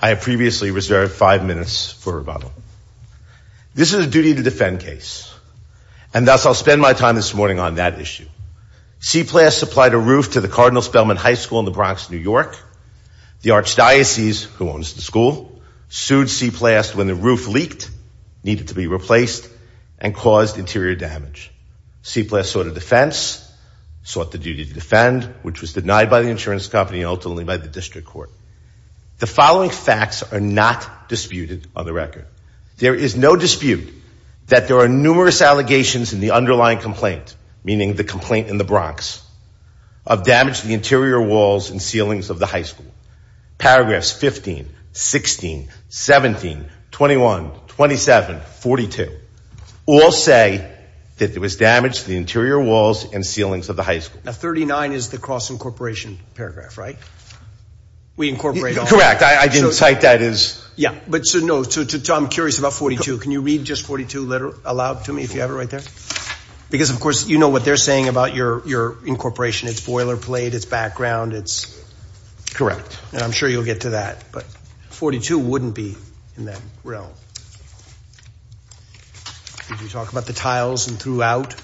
I have previously reserved five minutes for rebuttal. This is a duty to defend case, and thus I will spend my time this morning on that issue. Seplast supplied a roof to the Cardinal Spelman High School in the Bronx, New York. The Archdiocese, who owns the school, sued Seplast when the roof leaked, needed to be replaced, and caused interior damage. Seplast sought a defense, sought the duty to defend, which was denied by the insurance company and ultimately by the district court. The following facts are not disputed on the record. There is no dispute that there are numerous allegations in the underlying complaint, meaning the complaint in the Bronx, of damage to the interior walls and ceilings of the high school. Paragraphs 15, 16, 17, 21, 27, 42, all say that there was damage to the interior walls and ceilings of the high school. Now 39 is the cross-incorporation paragraph, right? We incorporate all. Correct. I didn't cite that as... Yeah, but so no, I'm curious about 42. Can you read just 42 aloud to me, if you have it right there? Because of course, you know what they're saying about your incorporation, it's boilerplate, it's background, it's... Correct. And I'm sure you'll get to that, but 42 wouldn't be in that realm. Could you talk about the tiles and throughout?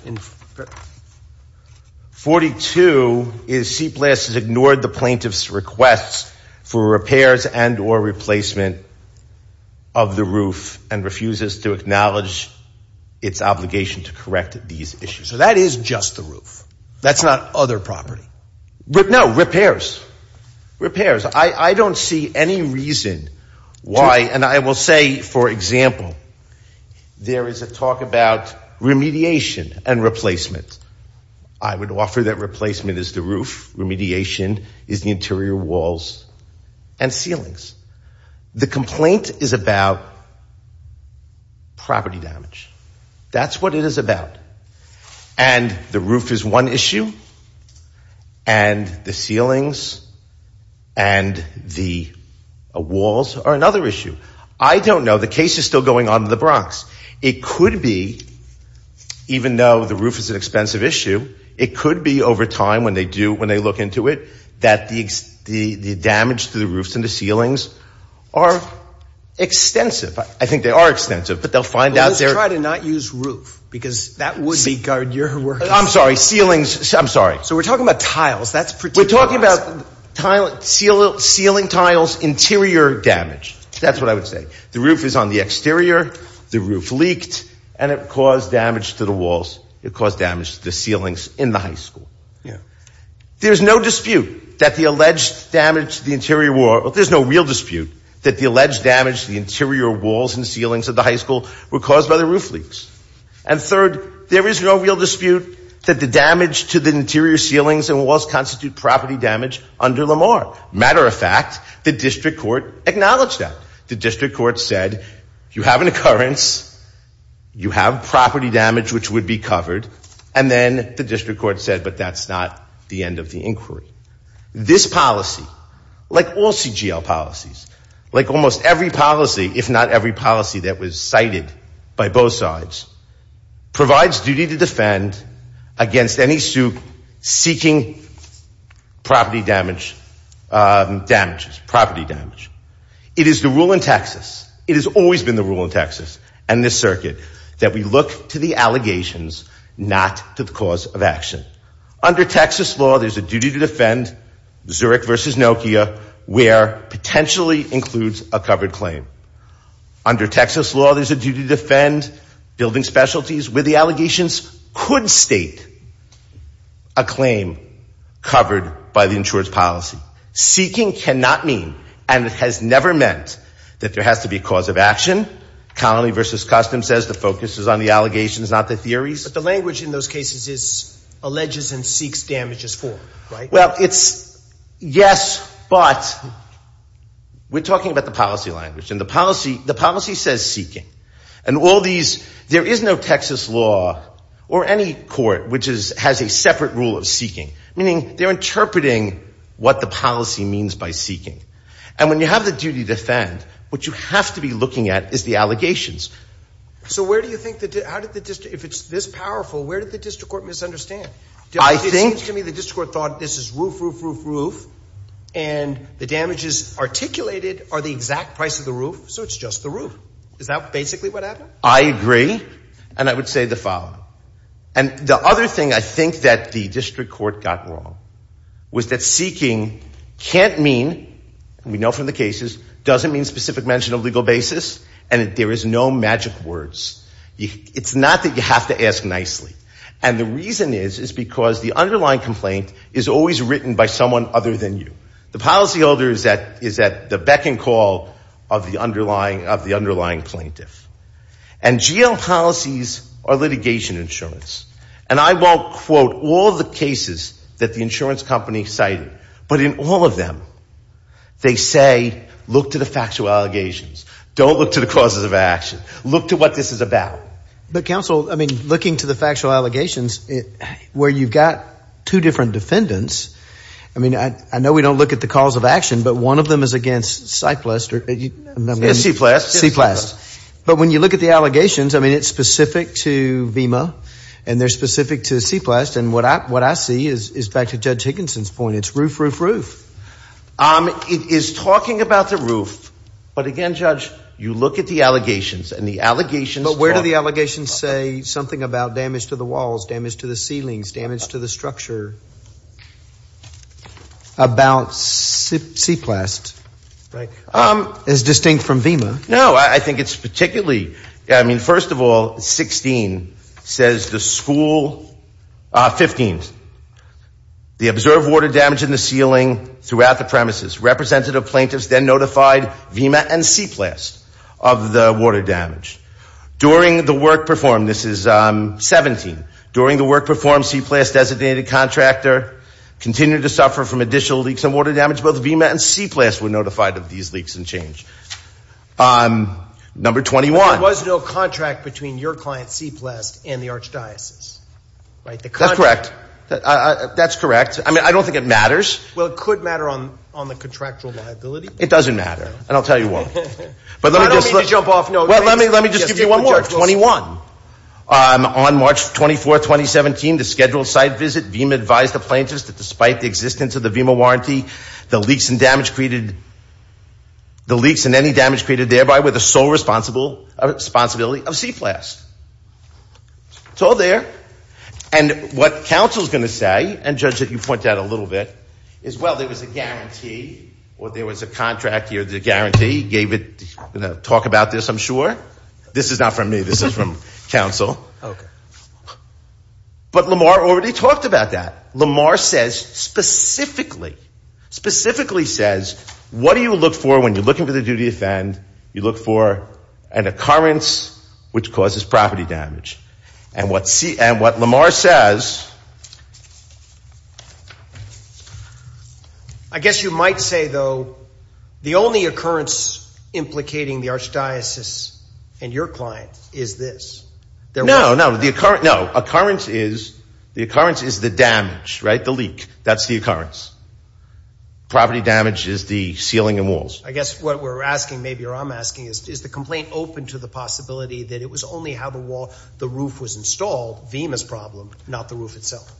42 is Seplast has ignored the plaintiff's request for repairs and or replacement of the roof and refuses to acknowledge its obligation to correct these issues. So that is just the roof. That's not other property. No, repairs, repairs. I don't see any reason why, and I will say, for example, there is a talk about remediation and replacement. I would offer that replacement is the roof, remediation is the interior walls and ceilings. The complaint is about property damage. That's what it is about. And the roof is one issue and the ceilings and the walls are another issue. I don't know. The case is still going on in the Bronx. It could be, even though the roof is an expensive issue, it could be over time when they do, into it that the damage to the roofs and the ceilings are extensive. I think they are extensive, but they'll find out they're trying to not use roof because that would be guard. You're working. I'm sorry. Ceilings. I'm sorry. So we're talking about tiles. That's pretty. We're talking about tile, seal, sealing tiles, interior damage. That's what I would say. The roof is on the exterior. The roof leaked and it caused damage to the walls. It caused damage to the ceilings in the high school. There's no dispute that the alleged damage to the interior wall, there's no real dispute that the alleged damage to the interior walls and ceilings of the high school were caused by the roof leaks. And third, there is no real dispute that the damage to the interior ceilings and walls constitute property damage under Lamar. Matter of fact, the district court acknowledged that. The district court said, you have an occurrence, you have property damage which would be covered, and then the district court said, but that's not the end of the inquiry. This policy, like all CGL policies, like almost every policy, if not every policy that was cited by both sides, provides duty to defend against any suit seeking property damage. It is the rule in Texas, it has always been the rule in Texas and this circuit, that we look to the allegations, not to the cause of action. Under Texas law, there's a duty to defend, Zurich versus Nokia, where potentially includes a covered claim. Under Texas law, there's a duty to defend, building specialties with the allegations could state a claim covered by the insurance policy. Seeking cannot mean, and it has never meant, that there has to be a cause of action. Colony versus Customs says the focus is on the allegations, not the theories. The language in those cases is, alleges and seeks damages for, right? Well, it's yes, but we're talking about the policy language, and the policy says seeking. And all these, there is no Texas law, or any court, which has a separate rule of seeking, meaning they're interpreting what the policy means by seeking. And when you have the duty to defend, what you have to be looking at is the allegations. So where do you think, if it's this powerful, where did the district court misunderstand? It seems to me the district court thought this is roof, roof, roof, roof, and the damages articulated are the exact price of the roof, so it's just the roof. Is that basically what happened? I agree, and I would say the following. And the other thing I think that the district court got wrong was that seeking can't mean, we know from the cases, doesn't mean specific mention of legal basis, and there is no magic words. It's not that you have to ask nicely. And the reason is, is because the underlying complaint is always written by someone other than you. The policyholder is at the beck and call of the underlying plaintiff. And GL policies are litigation insurance. And I won't quote all the cases that the insurance company cited, but in all of them, they say look to the factual allegations, don't look to the causes of action, look to what this is about. But counsel, I mean, looking to the factual allegations, where you've got two different defendants, I mean, I know we don't look at the cause of action, but one of them is against CYPLEST. But when you look at the allegations, I mean, it's specific to VEMA, and they're specific to CYPLEST. And what I see is, back to Judge Higginson's point, it's roof, roof, roof. It is talking about the roof, but again, Judge, you look at the allegations, and the allegations But where do the allegations say something about damage to the walls, damage to the ceilings, damage to the structure? About CYPLEST, is distinct from VEMA. No, I think it's particularly, I mean, first of all, 16 says the school, 15, the observed water damage in the ceiling throughout the premises. Representative plaintiffs then notified VEMA and CYPLEST of the water damage. During the work performed, this is 17, during the work performed, CYPLEST designated contracts continue to suffer from additional leaks and water damage. Both VEMA and CYPLEST were notified of these leaks and change. Number 21. There was no contract between your client CYPLEST and the Archdiocese, right? That's correct. That's correct. I mean, I don't think it matters. Well, it could matter on the contractual liability. It doesn't matter. And I'll tell you why. I don't mean to jump off notes. Well, let me just give you one more. Number 21. On March 24, 2017, the scheduled site visit, VEMA advised the plaintiffs that despite the existence of the VEMA warranty, the leaks and damage created, the leaks and any damage created thereby were the sole responsibility of CYPLEST. It's all there. And what counsel is going to say, and Judge, you pointed out a little bit, is, well, there was a guarantee, or there was a contract here, the guarantee, gave it, talk about this, I'm This is not from me. This is from counsel. But Lamar already talked about that. Lamar says specifically, specifically says, what do you look for when you're looking for the duty to offend? You look for an occurrence which causes property damage. And what Lamar says, I guess you might say, though, the only occurrence implicating the No, no, the occurrence, no, occurrence is, the occurrence is the damage, right, the leak. That's the occurrence. Property damage is the ceiling and walls. I guess what we're asking, maybe, or I'm asking is, is the complaint open to the possibility that it was only how the wall, the roof was installed, VEMA's problem, not the roof itself?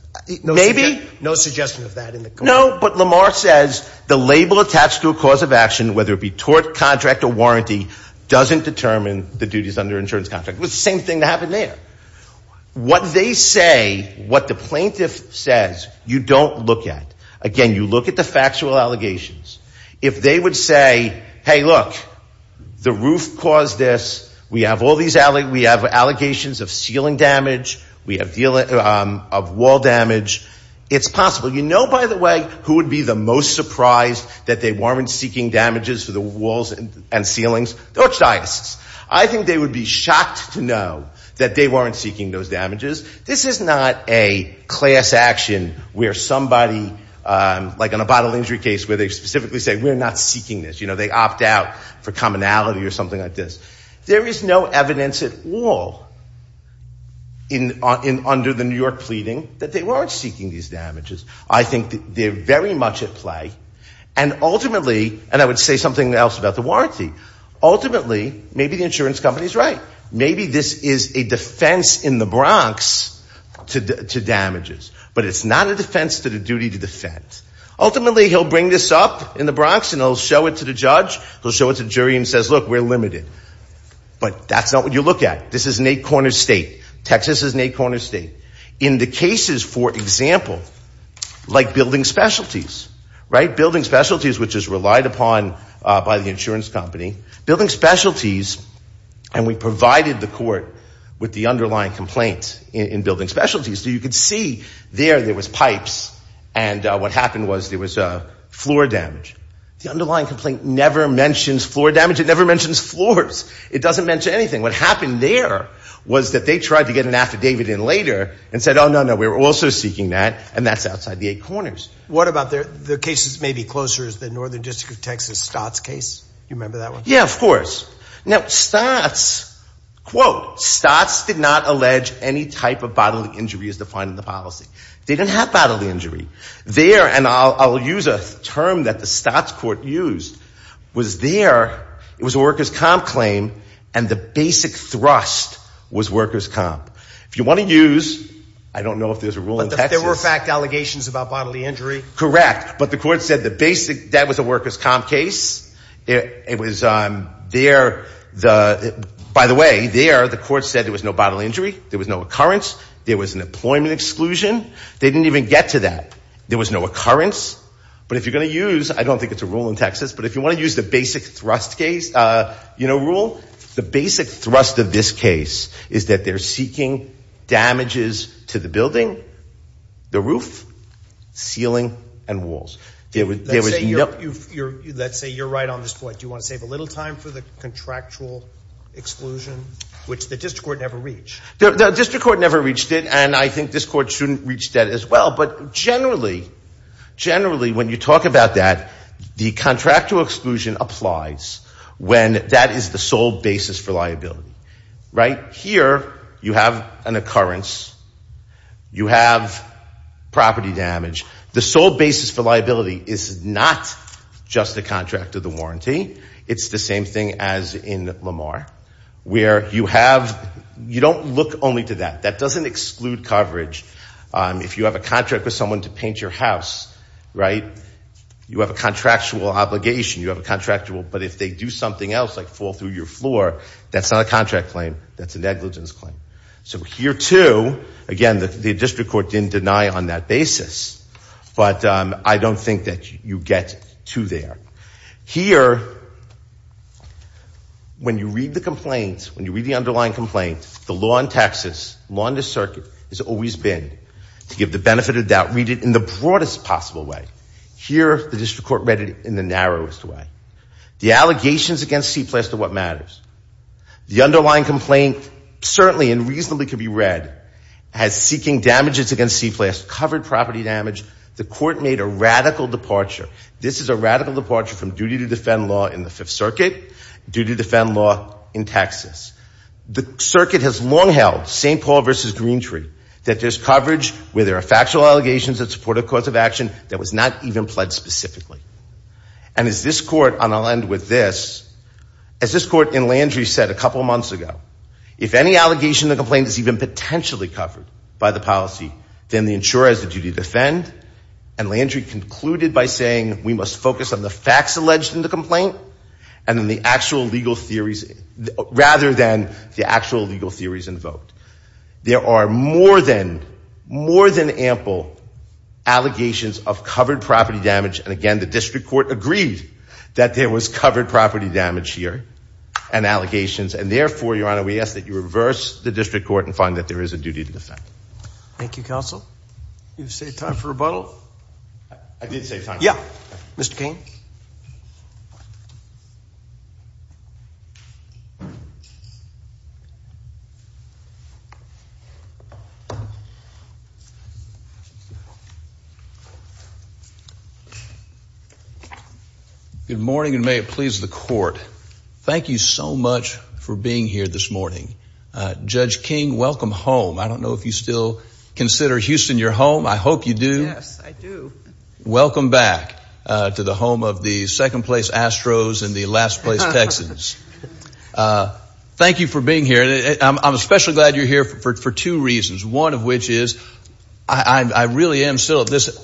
Maybe. No suggestion of that in the complaint. No, but Lamar says the label attached to a cause of action, whether it be tort, contract, or warranty, doesn't determine the duties under insurance contract. It's the same thing that happened there. What they say, what the plaintiff says, you don't look at. Again, you look at the factual allegations. If they would say, hey, look, the roof caused this. We have all these, we have allegations of ceiling damage. We have deal of wall damage. It's possible. You know, by the way, who would be the most surprised that they weren't seeking damages for the walls and ceilings? The Archdiocese. I think they would be shocked to know that they weren't seeking those damages. This is not a class action where somebody, like in a bodily injury case, where they specifically say, we're not seeking this. You know, they opt out for commonality or something like this. There is no evidence at all in, under the New York pleading that they weren't seeking these damages. I think they're very much at play. And ultimately, and I would say something else about the warranty, ultimately, maybe the insurance company is right. Maybe this is a defense in the Bronx to damages. But it's not a defense to the duty to defend. Ultimately, he'll bring this up in the Bronx and he'll show it to the judge. He'll show it to the jury and says, look, we're limited. But that's not what you look at. This is an eight-corner state. Texas is an eight-corner state. In the cases, for example, like building specialties, right? Building specialties, which is relied upon by the insurance company. Building specialties, and we provided the court with the underlying complaint in building specialties. So you could see there, there was pipes. And what happened was there was floor damage. The underlying complaint never mentions floor damage. It never mentions floors. It doesn't mention anything. What happened there was that they tried to get an affidavit in later and said, oh, no, no, we're also seeking that. And that's outside the eight corners. What about the cases maybe closer is the Northern District of Texas Stotts case? You remember that one? Yeah, of course. Now, Stotts, quote, Stotts did not allege any type of bodily injury as defined in the policy. They didn't have bodily injury. There, and I'll use a term that the Stotts court used, was there, it was a worker's comp claim. And the basic thrust was worker's comp. If you want to use, I don't know if there's a rule in Texas. But there were fact allegations about bodily injury. Correct. But the court said the basic, that was a worker's comp case. It was there, the, by the way, there, the court said there was no bodily injury. There was no occurrence. There was an employment exclusion. They didn't even get to that. There was no occurrence. But if you're going to use, I don't think it's a rule in Texas, but if you want to use the basic thrust case, you know, rule, the basic thrust of this case is that they're seeking damages to the building, the roof, ceiling, and walls. There was, let's say you're right on this point. Do you want to save a little time for the contractual exclusion, which the district court never reached? The district court never reached it. And I think this court shouldn't reach that as well. But generally, generally when you talk about that, the contractual exclusion applies when that is the sole basis for liability, right? Here you have an occurrence. You have property damage. The sole basis for liability is not just a contract of the warranty. It's the same thing as in Lamar, where you have, you don't look only to that. That doesn't exclude coverage. If you have a contract with someone to paint your house, right? You have a contractual obligation, you have a contractual, but if they do something else like fall through your floor, that's not a contract claim. That's a negligence claim. So here too, again, the district court didn't deny on that basis, but I don't think that you get to there. Here, when you read the complaint, when you read the underlying complaint, the law in the circuit has always been to give the benefit of doubt, read it in the broadest possible way. Here, the district court read it in the narrowest way. The allegations against CPLAS are what matters. The underlying complaint certainly and reasonably could be read as seeking damages against CPLAS, covered property damage. The court made a radical departure. This is a radical departure from duty to defend law in the Fifth Circuit, duty to defend law in Texas. The circuit has long held, St. Paul versus Greentree, that there's coverage where there are factual allegations that support a cause of action that was not even pledged specifically. And as this court, and I'll end with this, as this court in Landry said a couple of months ago, if any allegation in the complaint is even potentially covered by the policy, then the insurer has the duty to defend. And Landry concluded by saying, we must focus on the facts alleged in the complaint and the actual legal theories, rather than the actual legal theories invoked. There are more than ample allegations of covered property damage, and again, the district court agreed that there was covered property damage here and allegations. And therefore, Your Honor, we ask that you reverse the district court and find that there is a duty to defend. Thank you, counsel. You have saved time for rebuttal. I did save time. Yeah. Mr. Cain. Good morning, and may it please the court. Thank you so much for being here this morning. Judge King, welcome home. I don't know if you still consider Houston your home. Yes, I do. Welcome back to the home of the second place Astros and the last place Texans. Thank you for being here. I'm especially glad you're here for two reasons. One of which is, I really am still at this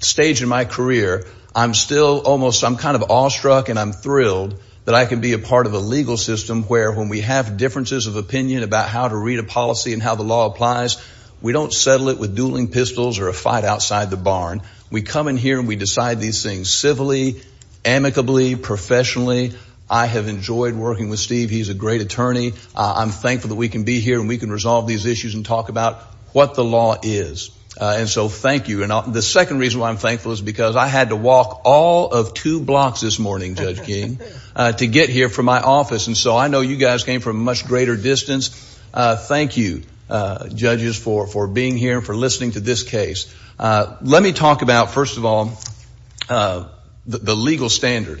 stage in my career, I'm still almost, I'm kind of awestruck and I'm thrilled that I can be a part of a legal system where when we have differences of opinion about how to read a policy and how the law applies, we don't settle it with dueling pistols or a fight outside the barn. We come in here and we decide these things civilly, amicably, professionally. I have enjoyed working with Steve. He's a great attorney. I'm thankful that we can be here and we can resolve these issues and talk about what the law is. And so thank you. And the second reason why I'm thankful is because I had to walk all of two blocks this morning, Judge King, to get here from my office. And so I know you guys came from a much greater distance. Thank you, judges, for being here and for listening to this case. Let me talk about, first of all, the legal standard.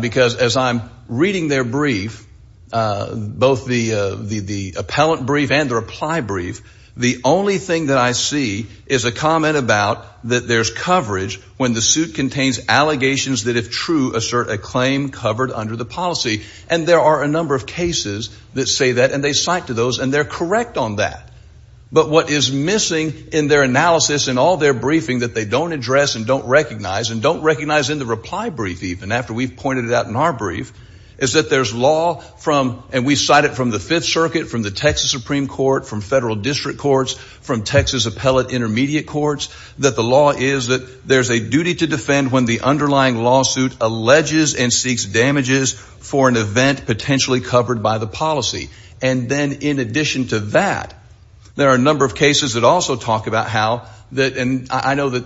Because as I'm reading their brief, both the appellant brief and the reply brief, the only thing that I see is a comment about that there's coverage when the suit contains allegations that if true, assert a claim covered under the policy. And there are a number of cases that say that and they cite to those and they're correct on that. But what is missing in their analysis and all their briefing that they don't address and don't recognize and don't recognize in the reply brief, even after we've pointed it out in our brief, is that there's law from, and we cite it from the Fifth Circuit, from the Texas Supreme Court, from federal district courts, from Texas appellate intermediate courts, that the law is that there's a duty to defend when the underlying lawsuit alleges and seeks damages for an event potentially covered by the policy. And then in addition to that, there are a number of cases that also talk about how that, and I know that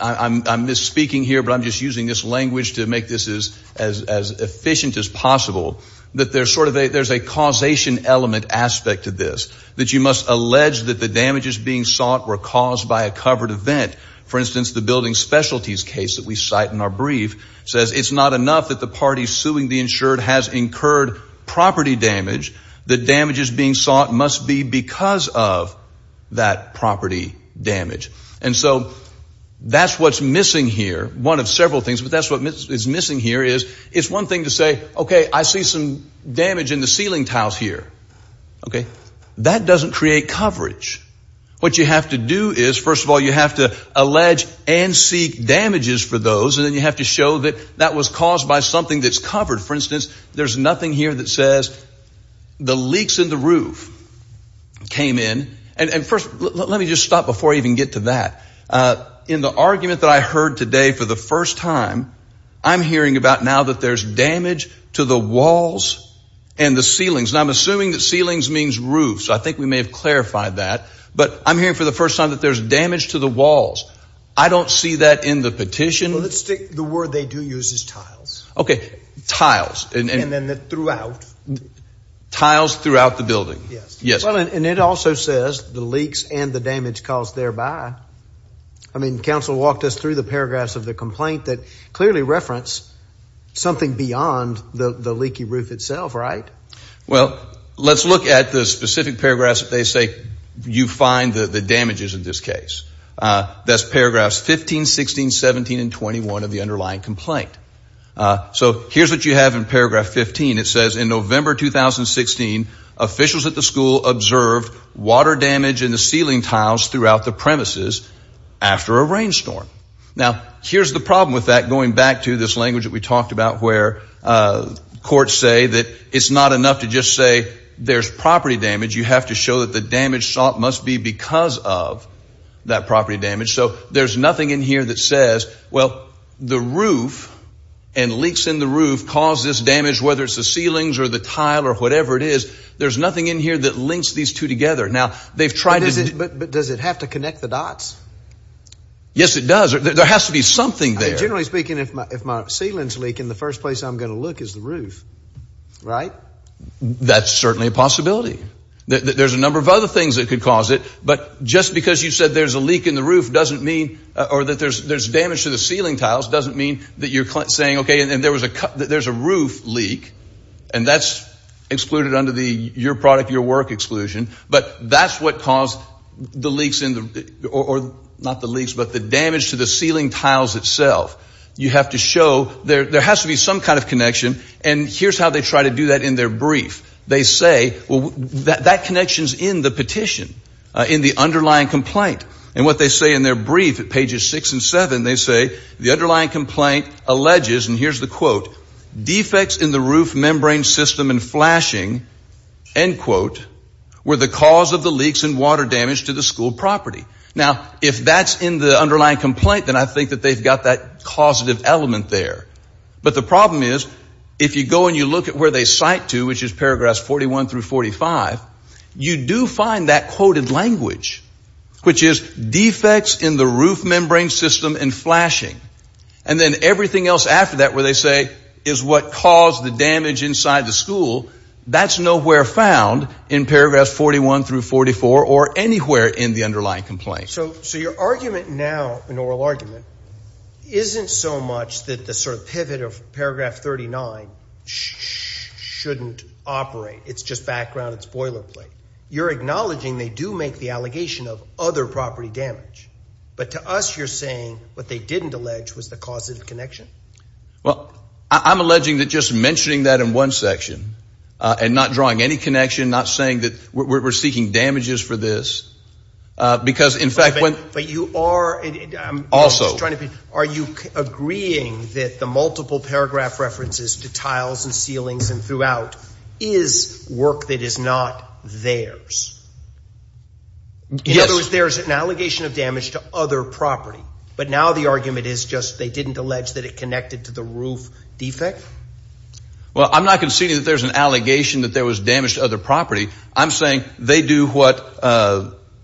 I'm misspeaking here, but I'm just using this language to make this as efficient as possible, that there's sort of a, there's a causation element aspect to this, that you must allege that the damages being sought were caused by a covered event. For instance, the building specialties case that we cite in our brief says it's not enough that the party suing the insured has incurred property damage, that damages being sought must be because of that property damage. And so that's what's missing here. One of several things, but that's what is missing here is, it's one thing to say, okay, I see some damage in the ceiling tiles here, okay? That doesn't create coverage. What you have to do is, first of all, you have to allege and seek damages for those, and then you have to show that that was caused by something that's covered. For instance, there's nothing here that says the leaks in the roof came in. And first, let me just stop before I even get to that. In the argument that I heard today for the first time, I'm hearing about now that there's damage to the walls and the ceilings, and I'm assuming that ceilings means roofs. I think we may have clarified that, but I'm hearing for the first time that there's damage to the walls. I don't see that in the petition. The word they do use is tiles. Okay. Tiles. And then throughout. Tiles throughout the building. Yes. Yes. Well, and it also says the leaks and the damage caused thereby. I mean, counsel walked us through the paragraphs of the complaint that clearly reference something beyond the leaky roof itself, right? Well, let's look at the specific paragraphs that they say you find the damages in this case. That's paragraphs 15, 16, 17, and 21 of the underlying complaint. So here's what you have in paragraph 15. It says in November 2016, officials at the school observed water damage in the ceiling tiles throughout the premises after a rainstorm. Now here's the problem with that. Going back to this language that we talked about where courts say that it's not enough to just say there's property damage. You have to show that the damage sought must be because of that property damage. So there's nothing in here that says, well, the roof and leaks in the roof cause this damage, whether it's the ceilings or the tile or whatever it is. There's nothing in here that links these two together. Now they've tried to. But does it have to connect the dots? Yes, it does. There has to be something there. Generally speaking, if my if my ceilings leak in the first place I'm going to look is the roof, right? That's certainly a possibility. There's a number of other things that could cause it. But just because you said there's a leak in the roof doesn't mean or that there's there's damage to the ceiling tiles doesn't mean that you're saying, OK, and there was a there's a roof leak and that's excluded under the your product, your work exclusion. But that's what caused the leaks in the or not the leaks, but the damage to the ceiling tiles itself. You have to show there there has to be some kind of connection. And here's how they try to do that in their brief. They say, well, that connection is in the petition, in the underlying complaint. And what they say in their brief at pages six and seven, they say the underlying complaint alleges and here's the quote, defects in the roof membrane system and flashing, end quote, were the cause of the leaks and water damage to the school property. Now, if that's in the underlying complaint, then I think that they've got that causative element there. But the problem is, if you go and you look at where they cite to, which is paragraphs forty one through forty five, you do find that quoted language, which is defects in the roof membrane system and flashing. And then everything else after that, where they say is what caused the damage inside the school. That's nowhere found in paragraphs forty one through forty four or anywhere in the underlying complaint. So so your argument now, an oral argument, isn't so much that the sort of pivot of paragraph thirty nine shouldn't operate. It's just background. It's boilerplate. You're acknowledging they do make the allegation of other property damage. But to us, you're saying what they didn't allege was the cause of the connection. Well, I'm alleging that just mentioning that in one section and not drawing any connection, not saying that we're seeking damages for this, because in fact, when you are also trying to be, are you agreeing that the multiple paragraph references to tiles and ceilings and throughout is work that is not theirs? In other words, there is an allegation of damage to other property. But now the argument is just they didn't allege that it connected to the roof defect. Well, I'm not conceding that there's an allegation that there was damage to other property. I'm saying they do what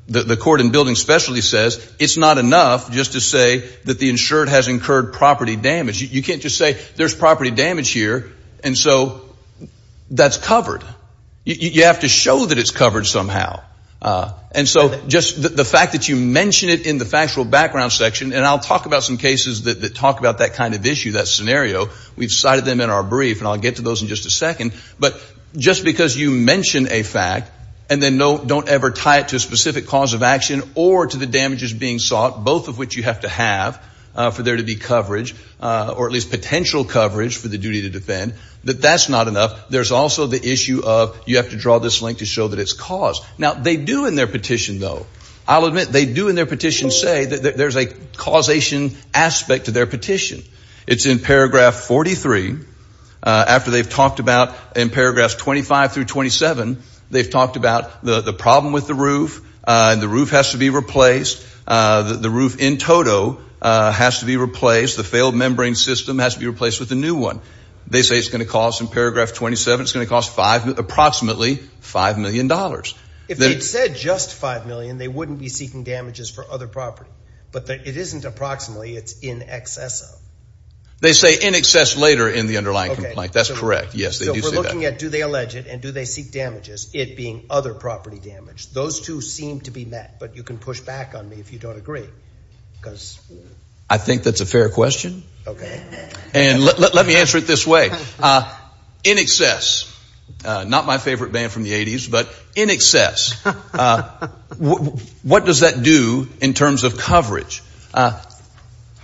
the court in building specialty says. It's not enough just to say that the insured has incurred property damage. You can't just say there's property damage here. And so that's covered. You have to show that it's covered somehow. And so just the fact that you mention it in the factual background section and I'll talk about some cases that talk about that kind of issue, that scenario. We've cited them in our brief and I'll get to those in just a second. But just because you mention a fact and then don't ever tie it to a specific cause of action or to the damages being sought, both of which you have to have for there to be coverage or at least potential coverage for the duty to defend, that that's not enough. There's also the issue of you have to draw this link to show that it's caused. Now they do in their petition, though, I'll admit they do in their petition say that there's a causation aspect to their petition. It's in paragraph 43 after they've talked about in paragraphs 25 through 27, they've talked about the problem with the roof and the roof has to be replaced. The roof in total has to be replaced. The failed membrane system has to be replaced with a new one. They say it's going to cost in paragraph 27, it's going to cost five, approximately five million dollars. If they'd said just five million, they wouldn't be seeking damages for other property. But it isn't approximately, it's in excess of. They say in excess later in the underlying complaint. That's correct. Yes, they do say that. So we're looking at do they allege it and do they seek damages, it being other property damage. Those two seem to be met, but you can push back on me if you don't agree. I think that's a fair question. And let me answer it this way. In excess, not my favorite band from the 80s, but in excess, what does that do in terms of coverage?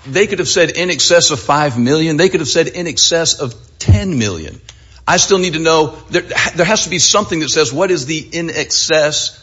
They could have said in excess of five million. They could have said in excess of ten million. I still need to know, there has to be something that says what is the in excess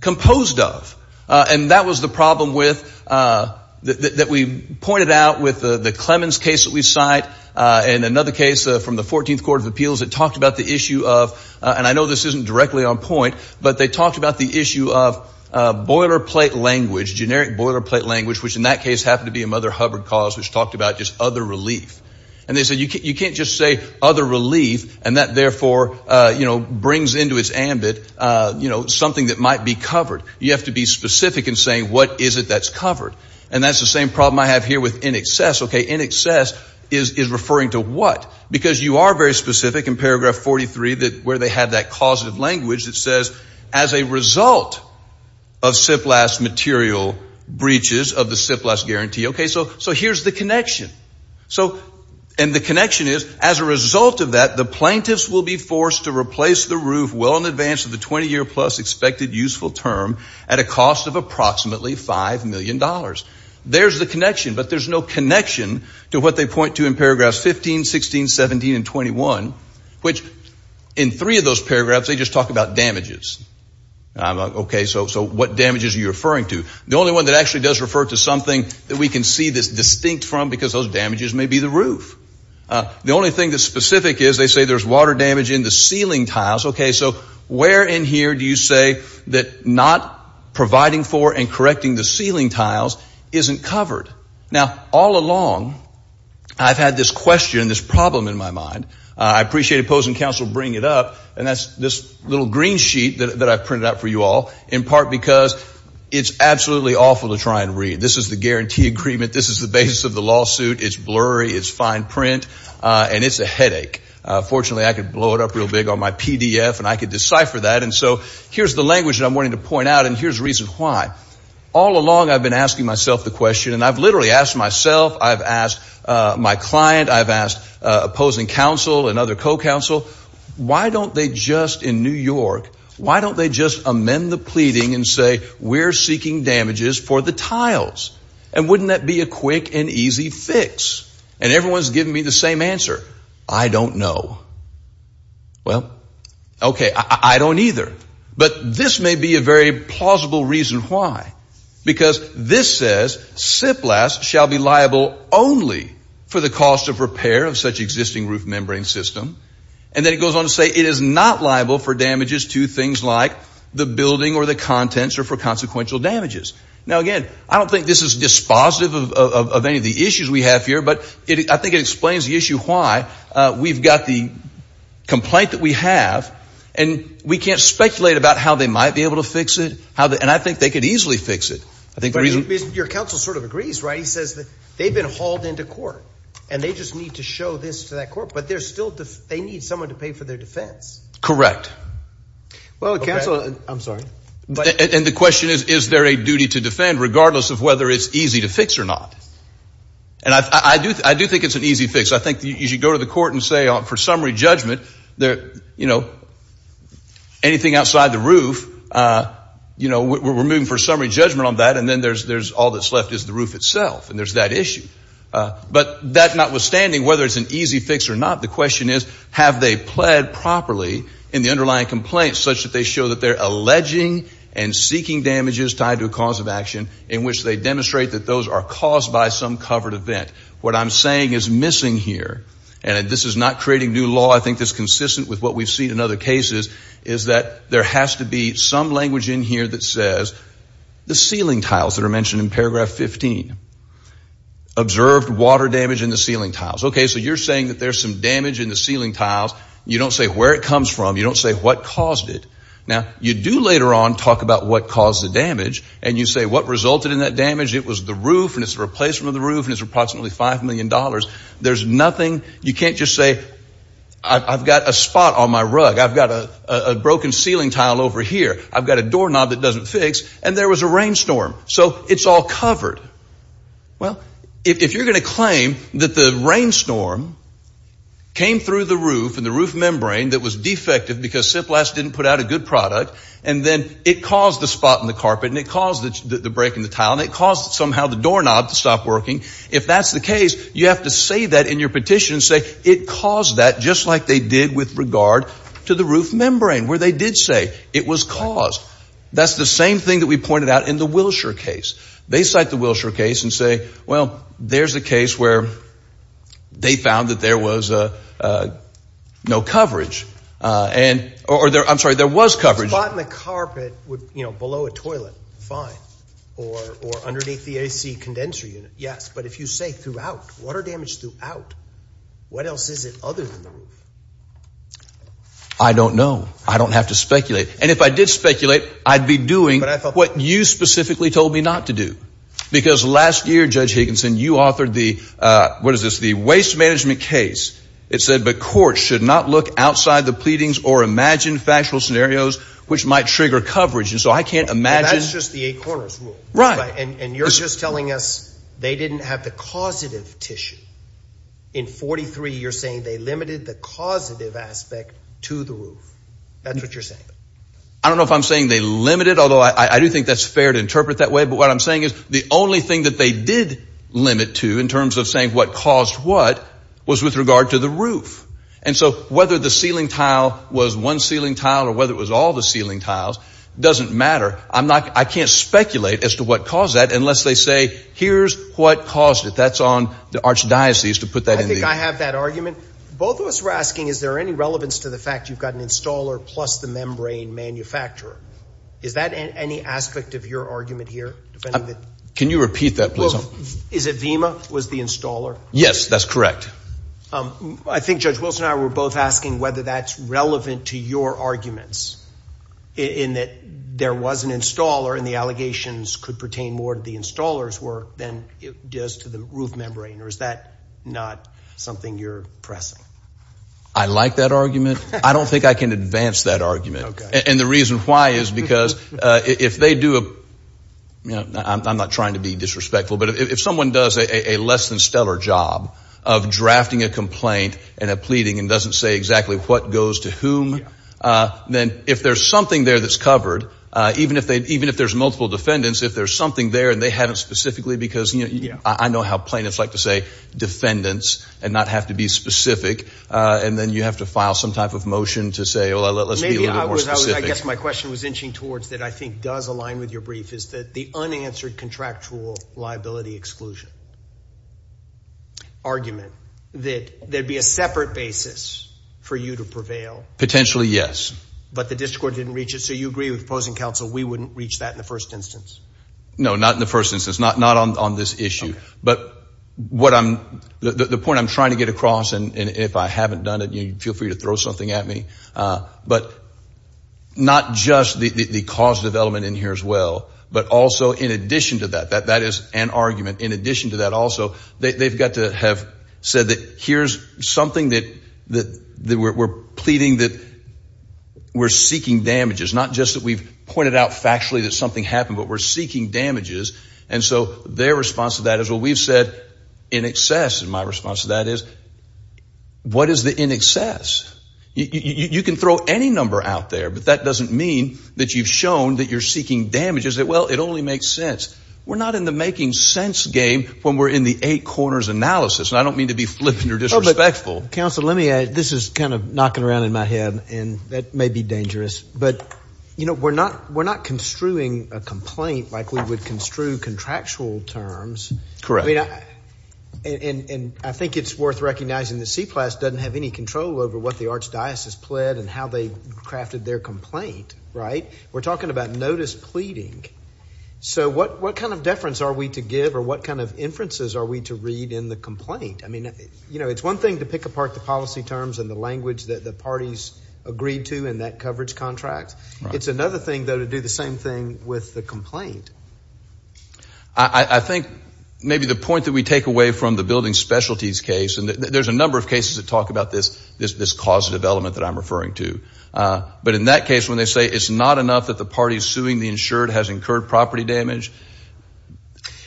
composed of. And that was the problem with, that we pointed out with the Clemens case that we cite and another case from the 14th Court of Appeals that talked about the issue of, and I know this isn't directly on point, but they talked about the issue of boilerplate language, generic boilerplate language, which in that case happened to be a Mother Hubbard cause which talked about just other relief. And they said you can't just say other relief and that therefore brings into its ambit something that might be covered. You have to be specific in saying what is it that's covered. And that's the same problem I have here with in excess. In excess is referring to what? Because you are very specific in paragraph 43 where they have that causative language that says as a result of SIP-LAS material breaches of the SIP-LAS guarantee. So here's the connection. And the connection is, as a result of that, the plaintiffs will be forced to replace the roof well in advance of the 20 year plus expected useful term at a cost of approximately five million dollars. There's the connection. But there's no connection to what they point to in paragraphs 15, 16, 17, and 21, which in three of those paragraphs, they just talk about damages. So what damages are you referring to? The only one that actually does refer to something that we can see this distinct from because those damages may be the roof. The only thing that's specific is they say there's water damage in the ceiling tiles. So where in here do you say that not providing for and correcting the ceiling tiles isn't covered? Now, all along, I've had this question, this problem in my mind. I appreciate opposing counsel bringing it up. And that's this little green sheet that I've printed out for you all, in part because it's absolutely awful to try and read. This is the guarantee agreement. This is the basis of the lawsuit. It's blurry. It's fine print. And it's a headache. Fortunately, I could blow it up real big on my PDF and I could decipher that. And so here's the language that I'm wanting to point out. And here's the reason why. All along, I've been asking myself the question and I've literally asked myself, I've asked my client, I've asked opposing counsel and other co-counsel, why don't they just in New York, why don't they just amend the pleading and say we're seeking damages for the tiles? And wouldn't that be a quick and easy fix? And everyone's giving me the same answer. I don't know. Well, OK, I don't either. But this may be a very plausible reason why. Because this says SIP-LAS shall be liable only for the cost of repair of such existing roof membrane system. And then it goes on to say it is not liable for damages to things like the building or the contents or for consequential damages. Now, again, I don't think this is dispositive of any of the issues we have here, but I think it explains the issue why we've got the complaint that we have and we can't speculate about how they might be able to fix it. And I think they could easily fix it. I think the reason your counsel sort of agrees, right, he says that they've been hauled into court and they just need to show this to that court. But there's still they need someone to pay for their defense. Correct. Well, counsel, I'm sorry. And the question is, is there a duty to defend regardless of whether it's easy to fix or not? And I do I do think it's an easy fix. I think you should go to the court and say, for summary judgment there, you know, anything outside the roof, you know, we're moving for summary judgment on that. And then there's there's all that's left is the roof itself. And there's that issue. But that notwithstanding, whether it's an easy fix or not, the question is, have they pled properly in the underlying complaints such that they show that they're alleging and seeking damages tied to a cause of action in which they demonstrate that those are caused by some covered event? What I'm saying is missing here. And this is not creating new law. I think this consistent with what we've seen in other cases is that there has to be some language in here that says the ceiling tiles that are mentioned in paragraph 15 observed water damage in the ceiling tiles. OK, so you're saying that there's some damage in the ceiling tiles. You don't say where it comes from. You don't say what caused it. Now, you do later on talk about what caused the damage. And you say what resulted in that damage. It was the roof and its replacement of the roof is approximately five million dollars. There's nothing. You can't just say I've got a spot on my rug. I've got a broken ceiling tile over here. I've got a doorknob that doesn't fix. And there was a rainstorm. So it's all covered. Well, if you're going to claim that the rainstorm came through the roof and the roof membrane that was defective because SIP-LAS didn't put out a good product and then it caused the spot in the carpet and it caused the break in the tile and it caused somehow the doorknob to stop working. If that's the case, you have to say that in your petition and say it caused that just like they did with regard to the roof membrane where they did say it was caused. That's the same thing that we pointed out in the Wilshire case. They cite the Wilshire case and say, well, there's a case where they found that there was no coverage and or I'm sorry, there was coverage. Spot in the carpet would, you know, below a toilet, fine, or underneath the AC condenser unit. Yes. But if you say throughout, water damage throughout, what else is it other than the roof? I don't know. I don't have to speculate. And if I did speculate, I'd be doing what you specifically told me not to do. Because last year, Judge Higginson, you authored the, what is this, the waste management case. It said the court should not look outside the pleadings or imagine factual scenarios which might trigger coverage. And so I can't imagine. That's just the eight corners rule. Right. And you're just telling us they didn't have the causative tissue. In 43, you're saying they limited the causative aspect to the roof. That's what you're saying. I don't know if I'm saying they limited, although I do think that's fair to interpret that way. But what I'm saying is the only thing that they did limit to in terms of saying what caused what was with regard to the roof. And so whether the ceiling tile was one ceiling tile or whether it was all the ceiling tiles doesn't matter. I'm not, I can't speculate as to what caused that unless they say, here's what caused it. That's on the archdiocese to put that in there. I think I have that argument. Both of us were asking, is there any relevance to the fact you've got an installer plus the membrane manufacturer? Is that any aspect of your argument here? Can you repeat that please? Is it Vima was the installer? Yes, that's correct. I think Judge Wilson and I were both asking whether that's relevant to your arguments in that there was an installer and the allegations could pertain more to the installer's work than it does to the roof membrane, or is that not something you're pressing? I like that argument. I don't think I can advance that argument. And the reason why is because if they do, I'm not trying to be disrespectful, but if someone does a less than stellar job of drafting a complaint and a pleading and doesn't say exactly what goes to whom, then if there's something there that's covered, even if there's multiple defendants, if there's something there and they haven't specifically, because I know how plain it's like to say defendants and not have to be specific, and then you have to file some type of motion to say, well, let's be a little more specific. I guess my question was inching towards that I think does align with your brief, is that the unanswered contractual liability exclusion argument, that there'd be a separate basis for you to prevail. Potentially yes. But the district court didn't reach it, so you agree with opposing counsel we wouldn't reach that in the first instance? No, not in the first instance, not on this issue. But the point I'm trying to get across, and if I haven't done it, feel free to throw something at me, but not just the cause development in here as well, but also in addition to that, that is an argument, in addition to that also, they've got to have said that here's something that we're pleading that we're seeking damages, not just that we've pointed out factually that something happened, but we're seeking damages. And so their response to that is, well, we've said in excess, and my response to that is, what is the in excess? You can throw any number out there, but that doesn't mean that you've shown that you're seeking damages, that well, it only makes sense. We're not in the making sense game when we're in the eight corners analysis, and I don't mean to be flippant or disrespectful. Counsel, let me add, this is kind of knocking around in my head, and that may be dangerous, but we're not construing a complaint like we would construe contractual terms. Correct. I mean, and I think it's worth recognizing that CPLAS doesn't have any control over what the archdiocese pled and how they crafted their complaint, right? We're talking about notice pleading. So what kind of deference are we to give, or what kind of inferences are we to read in the complaint? I mean, it's one thing to pick apart the policy terms and the language that the parties agreed to in that coverage contract. I think maybe the point that we take away from the building specialties case, and there's a number of cases that talk about this causative element that I'm referring to. But in that case, when they say it's not enough that the party suing the insured has incurred property damage,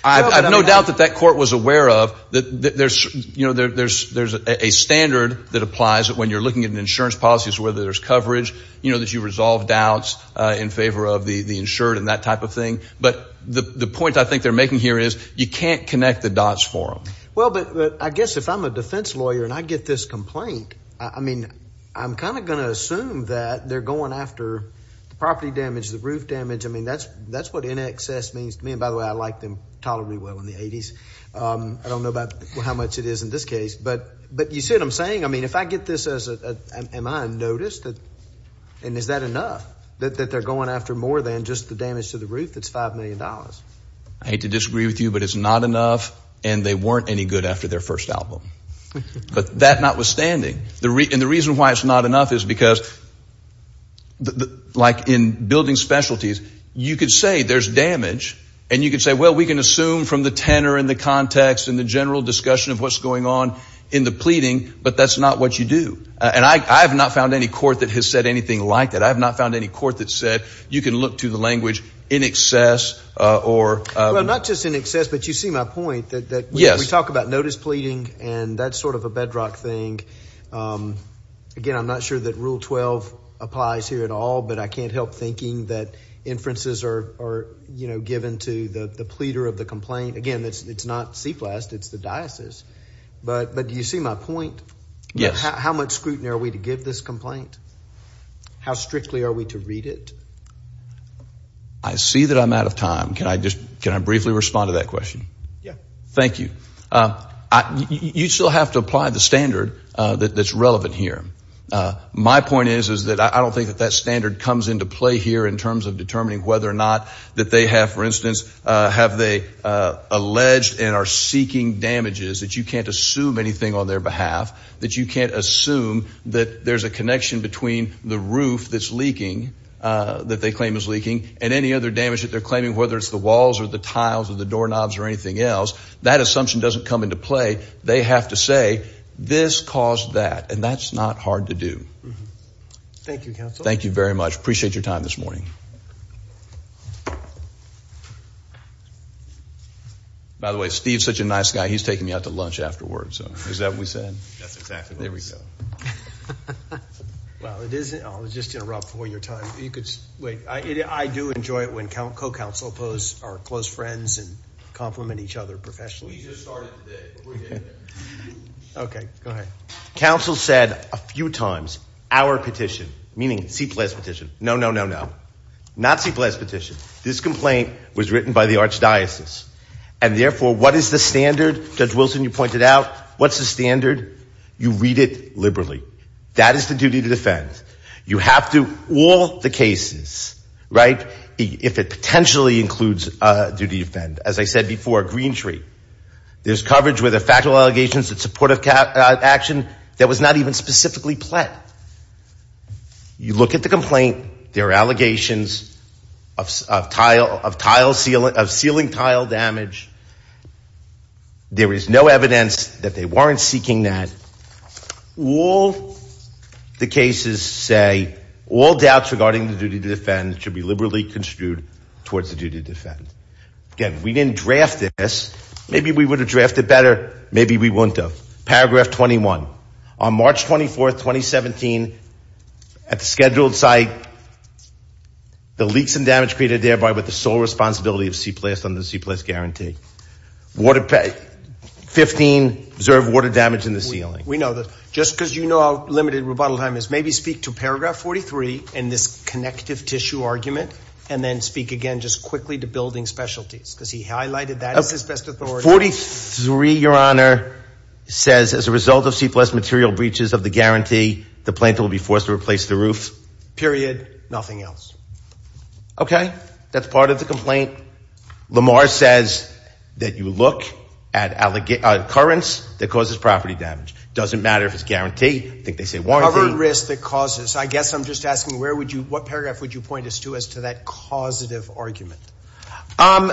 I have no doubt that that court was aware of that there's a standard that applies when you're looking at an insurance policy as to whether there's coverage, you know, that you resolve doubts in favor of the insured and that type of thing. But the point I think they're making here is you can't connect the dots for them. Well, but I guess if I'm a defense lawyer and I get this complaint, I mean, I'm kind of going to assume that they're going after the property damage, the roof damage. I mean, that's what in excess means to me. And by the way, I like them tolerably well in the 80s. I don't know about how much it is in this case. But you see what I'm saying? I mean, if I get this as, am I noticed? And is that enough that they're going after more than just the damage to the roof that's $5 million? I hate to disagree with you, but it's not enough. And they weren't any good after their first album. But that notwithstanding, the reason why it's not enough is because like in building specialties, you could say there's damage and you could say, well, we can assume from the tenor and the context and the general discussion of what's going on in the pleading, but that's not what you do. And I have not found any court that has said anything like that. I have not found any court that said, you can look to the language in excess or... Well, not just in excess, but you see my point that we talk about notice pleading and that's sort of a bedrock thing. Again, I'm not sure that rule 12 applies here at all, but I can't help thinking that inferences are given to the pleader of the complaint. Again, it's not CPLAST, it's the diocese. But do you see my point? How much scrutiny are we to give this complaint? How strictly are we to read it? I see that I'm out of time. Can I just, can I briefly respond to that question? Yeah. Thank you. You still have to apply the standard that's relevant here. My point is, is that I don't think that that standard comes into play here in terms of determining whether or not that they have, for instance, have they alleged and are seeking damages that you can't assume anything on their behalf, that you can't assume that there's a connection between the roof that's leaking, that they claim is leaking and any other damage that they're claiming, whether it's the walls or the tiles or the doorknobs or anything else, that assumption doesn't come into play. They have to say this caused that and that's not hard to do. Thank you, counsel. Thank you very much. Appreciate your time this morning. By the way, Steve's such a nice guy. He's taking me out to lunch afterwards. So is that what we said? That's exactly what we said. Well, it is, I'll just interrupt for your time. You could wait. I do enjoy it when co-counsel oppose our close friends and compliment each other professionally. We just started today. Okay, go ahead. Counsel said a few times, our petition, meaning CPLAS petition. No, no, no, no, not CPLAS petition. This complaint was written by the archdiocese and therefore what is the standard? Judge Wilson, you pointed out, what's the standard? You read it liberally. That is the duty to defend. You have to, all the cases, right? If it potentially includes a duty to defend, as I said before, a green tree. There's coverage with a factual allegations that supportive action that was not even specifically pled. You look at the complaint, there are allegations of tile, of tile sealing, of sealing tile damage. There is no evidence that they weren't seeking that. All the cases say all doubts regarding the duty to defend should be liberally construed towards the duty to defend. Again, we didn't draft this. Maybe we would have drafted better. Maybe we wouldn't have. Paragraph 21 on March 24th, 2017 at the scheduled site, the leaks and damage created thereby with the sole responsibility of CPLAS under the CPLAS guarantee. Water, 15 observed water damage in the ceiling. We know that just because you know how limited rebuttal time is, maybe speak to paragraph 43 and this connective tissue argument and then speak again just quickly to building specialties because he highlighted that as his best authority. 43, Your Honor, says as a result of CPLAS material breaches of the guarantee, the planter will be forced to replace the roof. Period. Nothing else. Okay. That's part of the complaint. Lamar says that you look at currents that causes property damage. Doesn't matter if it's guaranteed. I think they say warranted risk that causes, I guess I'm just asking, where would you, what paragraph would you point us to as to that causative argument? Um,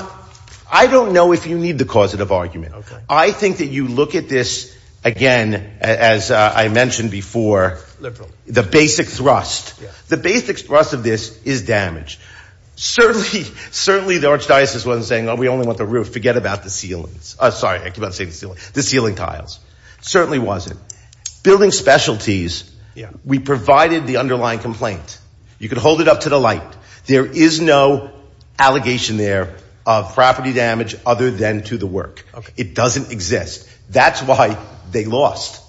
I don't know if you need the causative argument. I think that you look at this again, as I mentioned before, the basic thrust, the basic thrust of this is damage. Certainly, certainly the archdiocese wasn't saying, oh, we only want the roof. Forget about the ceilings. Oh, sorry. I keep on saying the ceiling, the ceiling tiles. Certainly wasn't. Building specialties, we provided the underlying complaint. You can hold it up to the light. There is no allegation there of property damage other than to the work. It doesn't exist. That's why they lost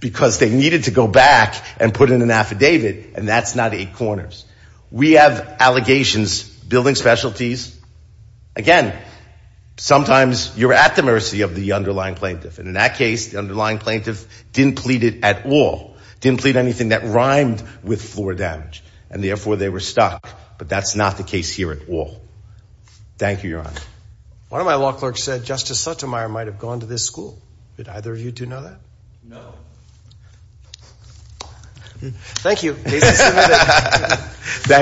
because they needed to go back and put in an affidavit. And that's not eight corners. We have allegations, building specialties. Again, sometimes you're at the mercy of the underlying plaintiff. And in that case, the underlying plaintiff didn't plead it at all. Didn't plead anything that rhymed with floor damage and therefore they were stuck. But that's not the case here at all. Thank you, Your Honor. One of my law clerks said, Justice Sotomayor might've gone to this school. Did either of you two know that? No. Thank you. Case is submitted.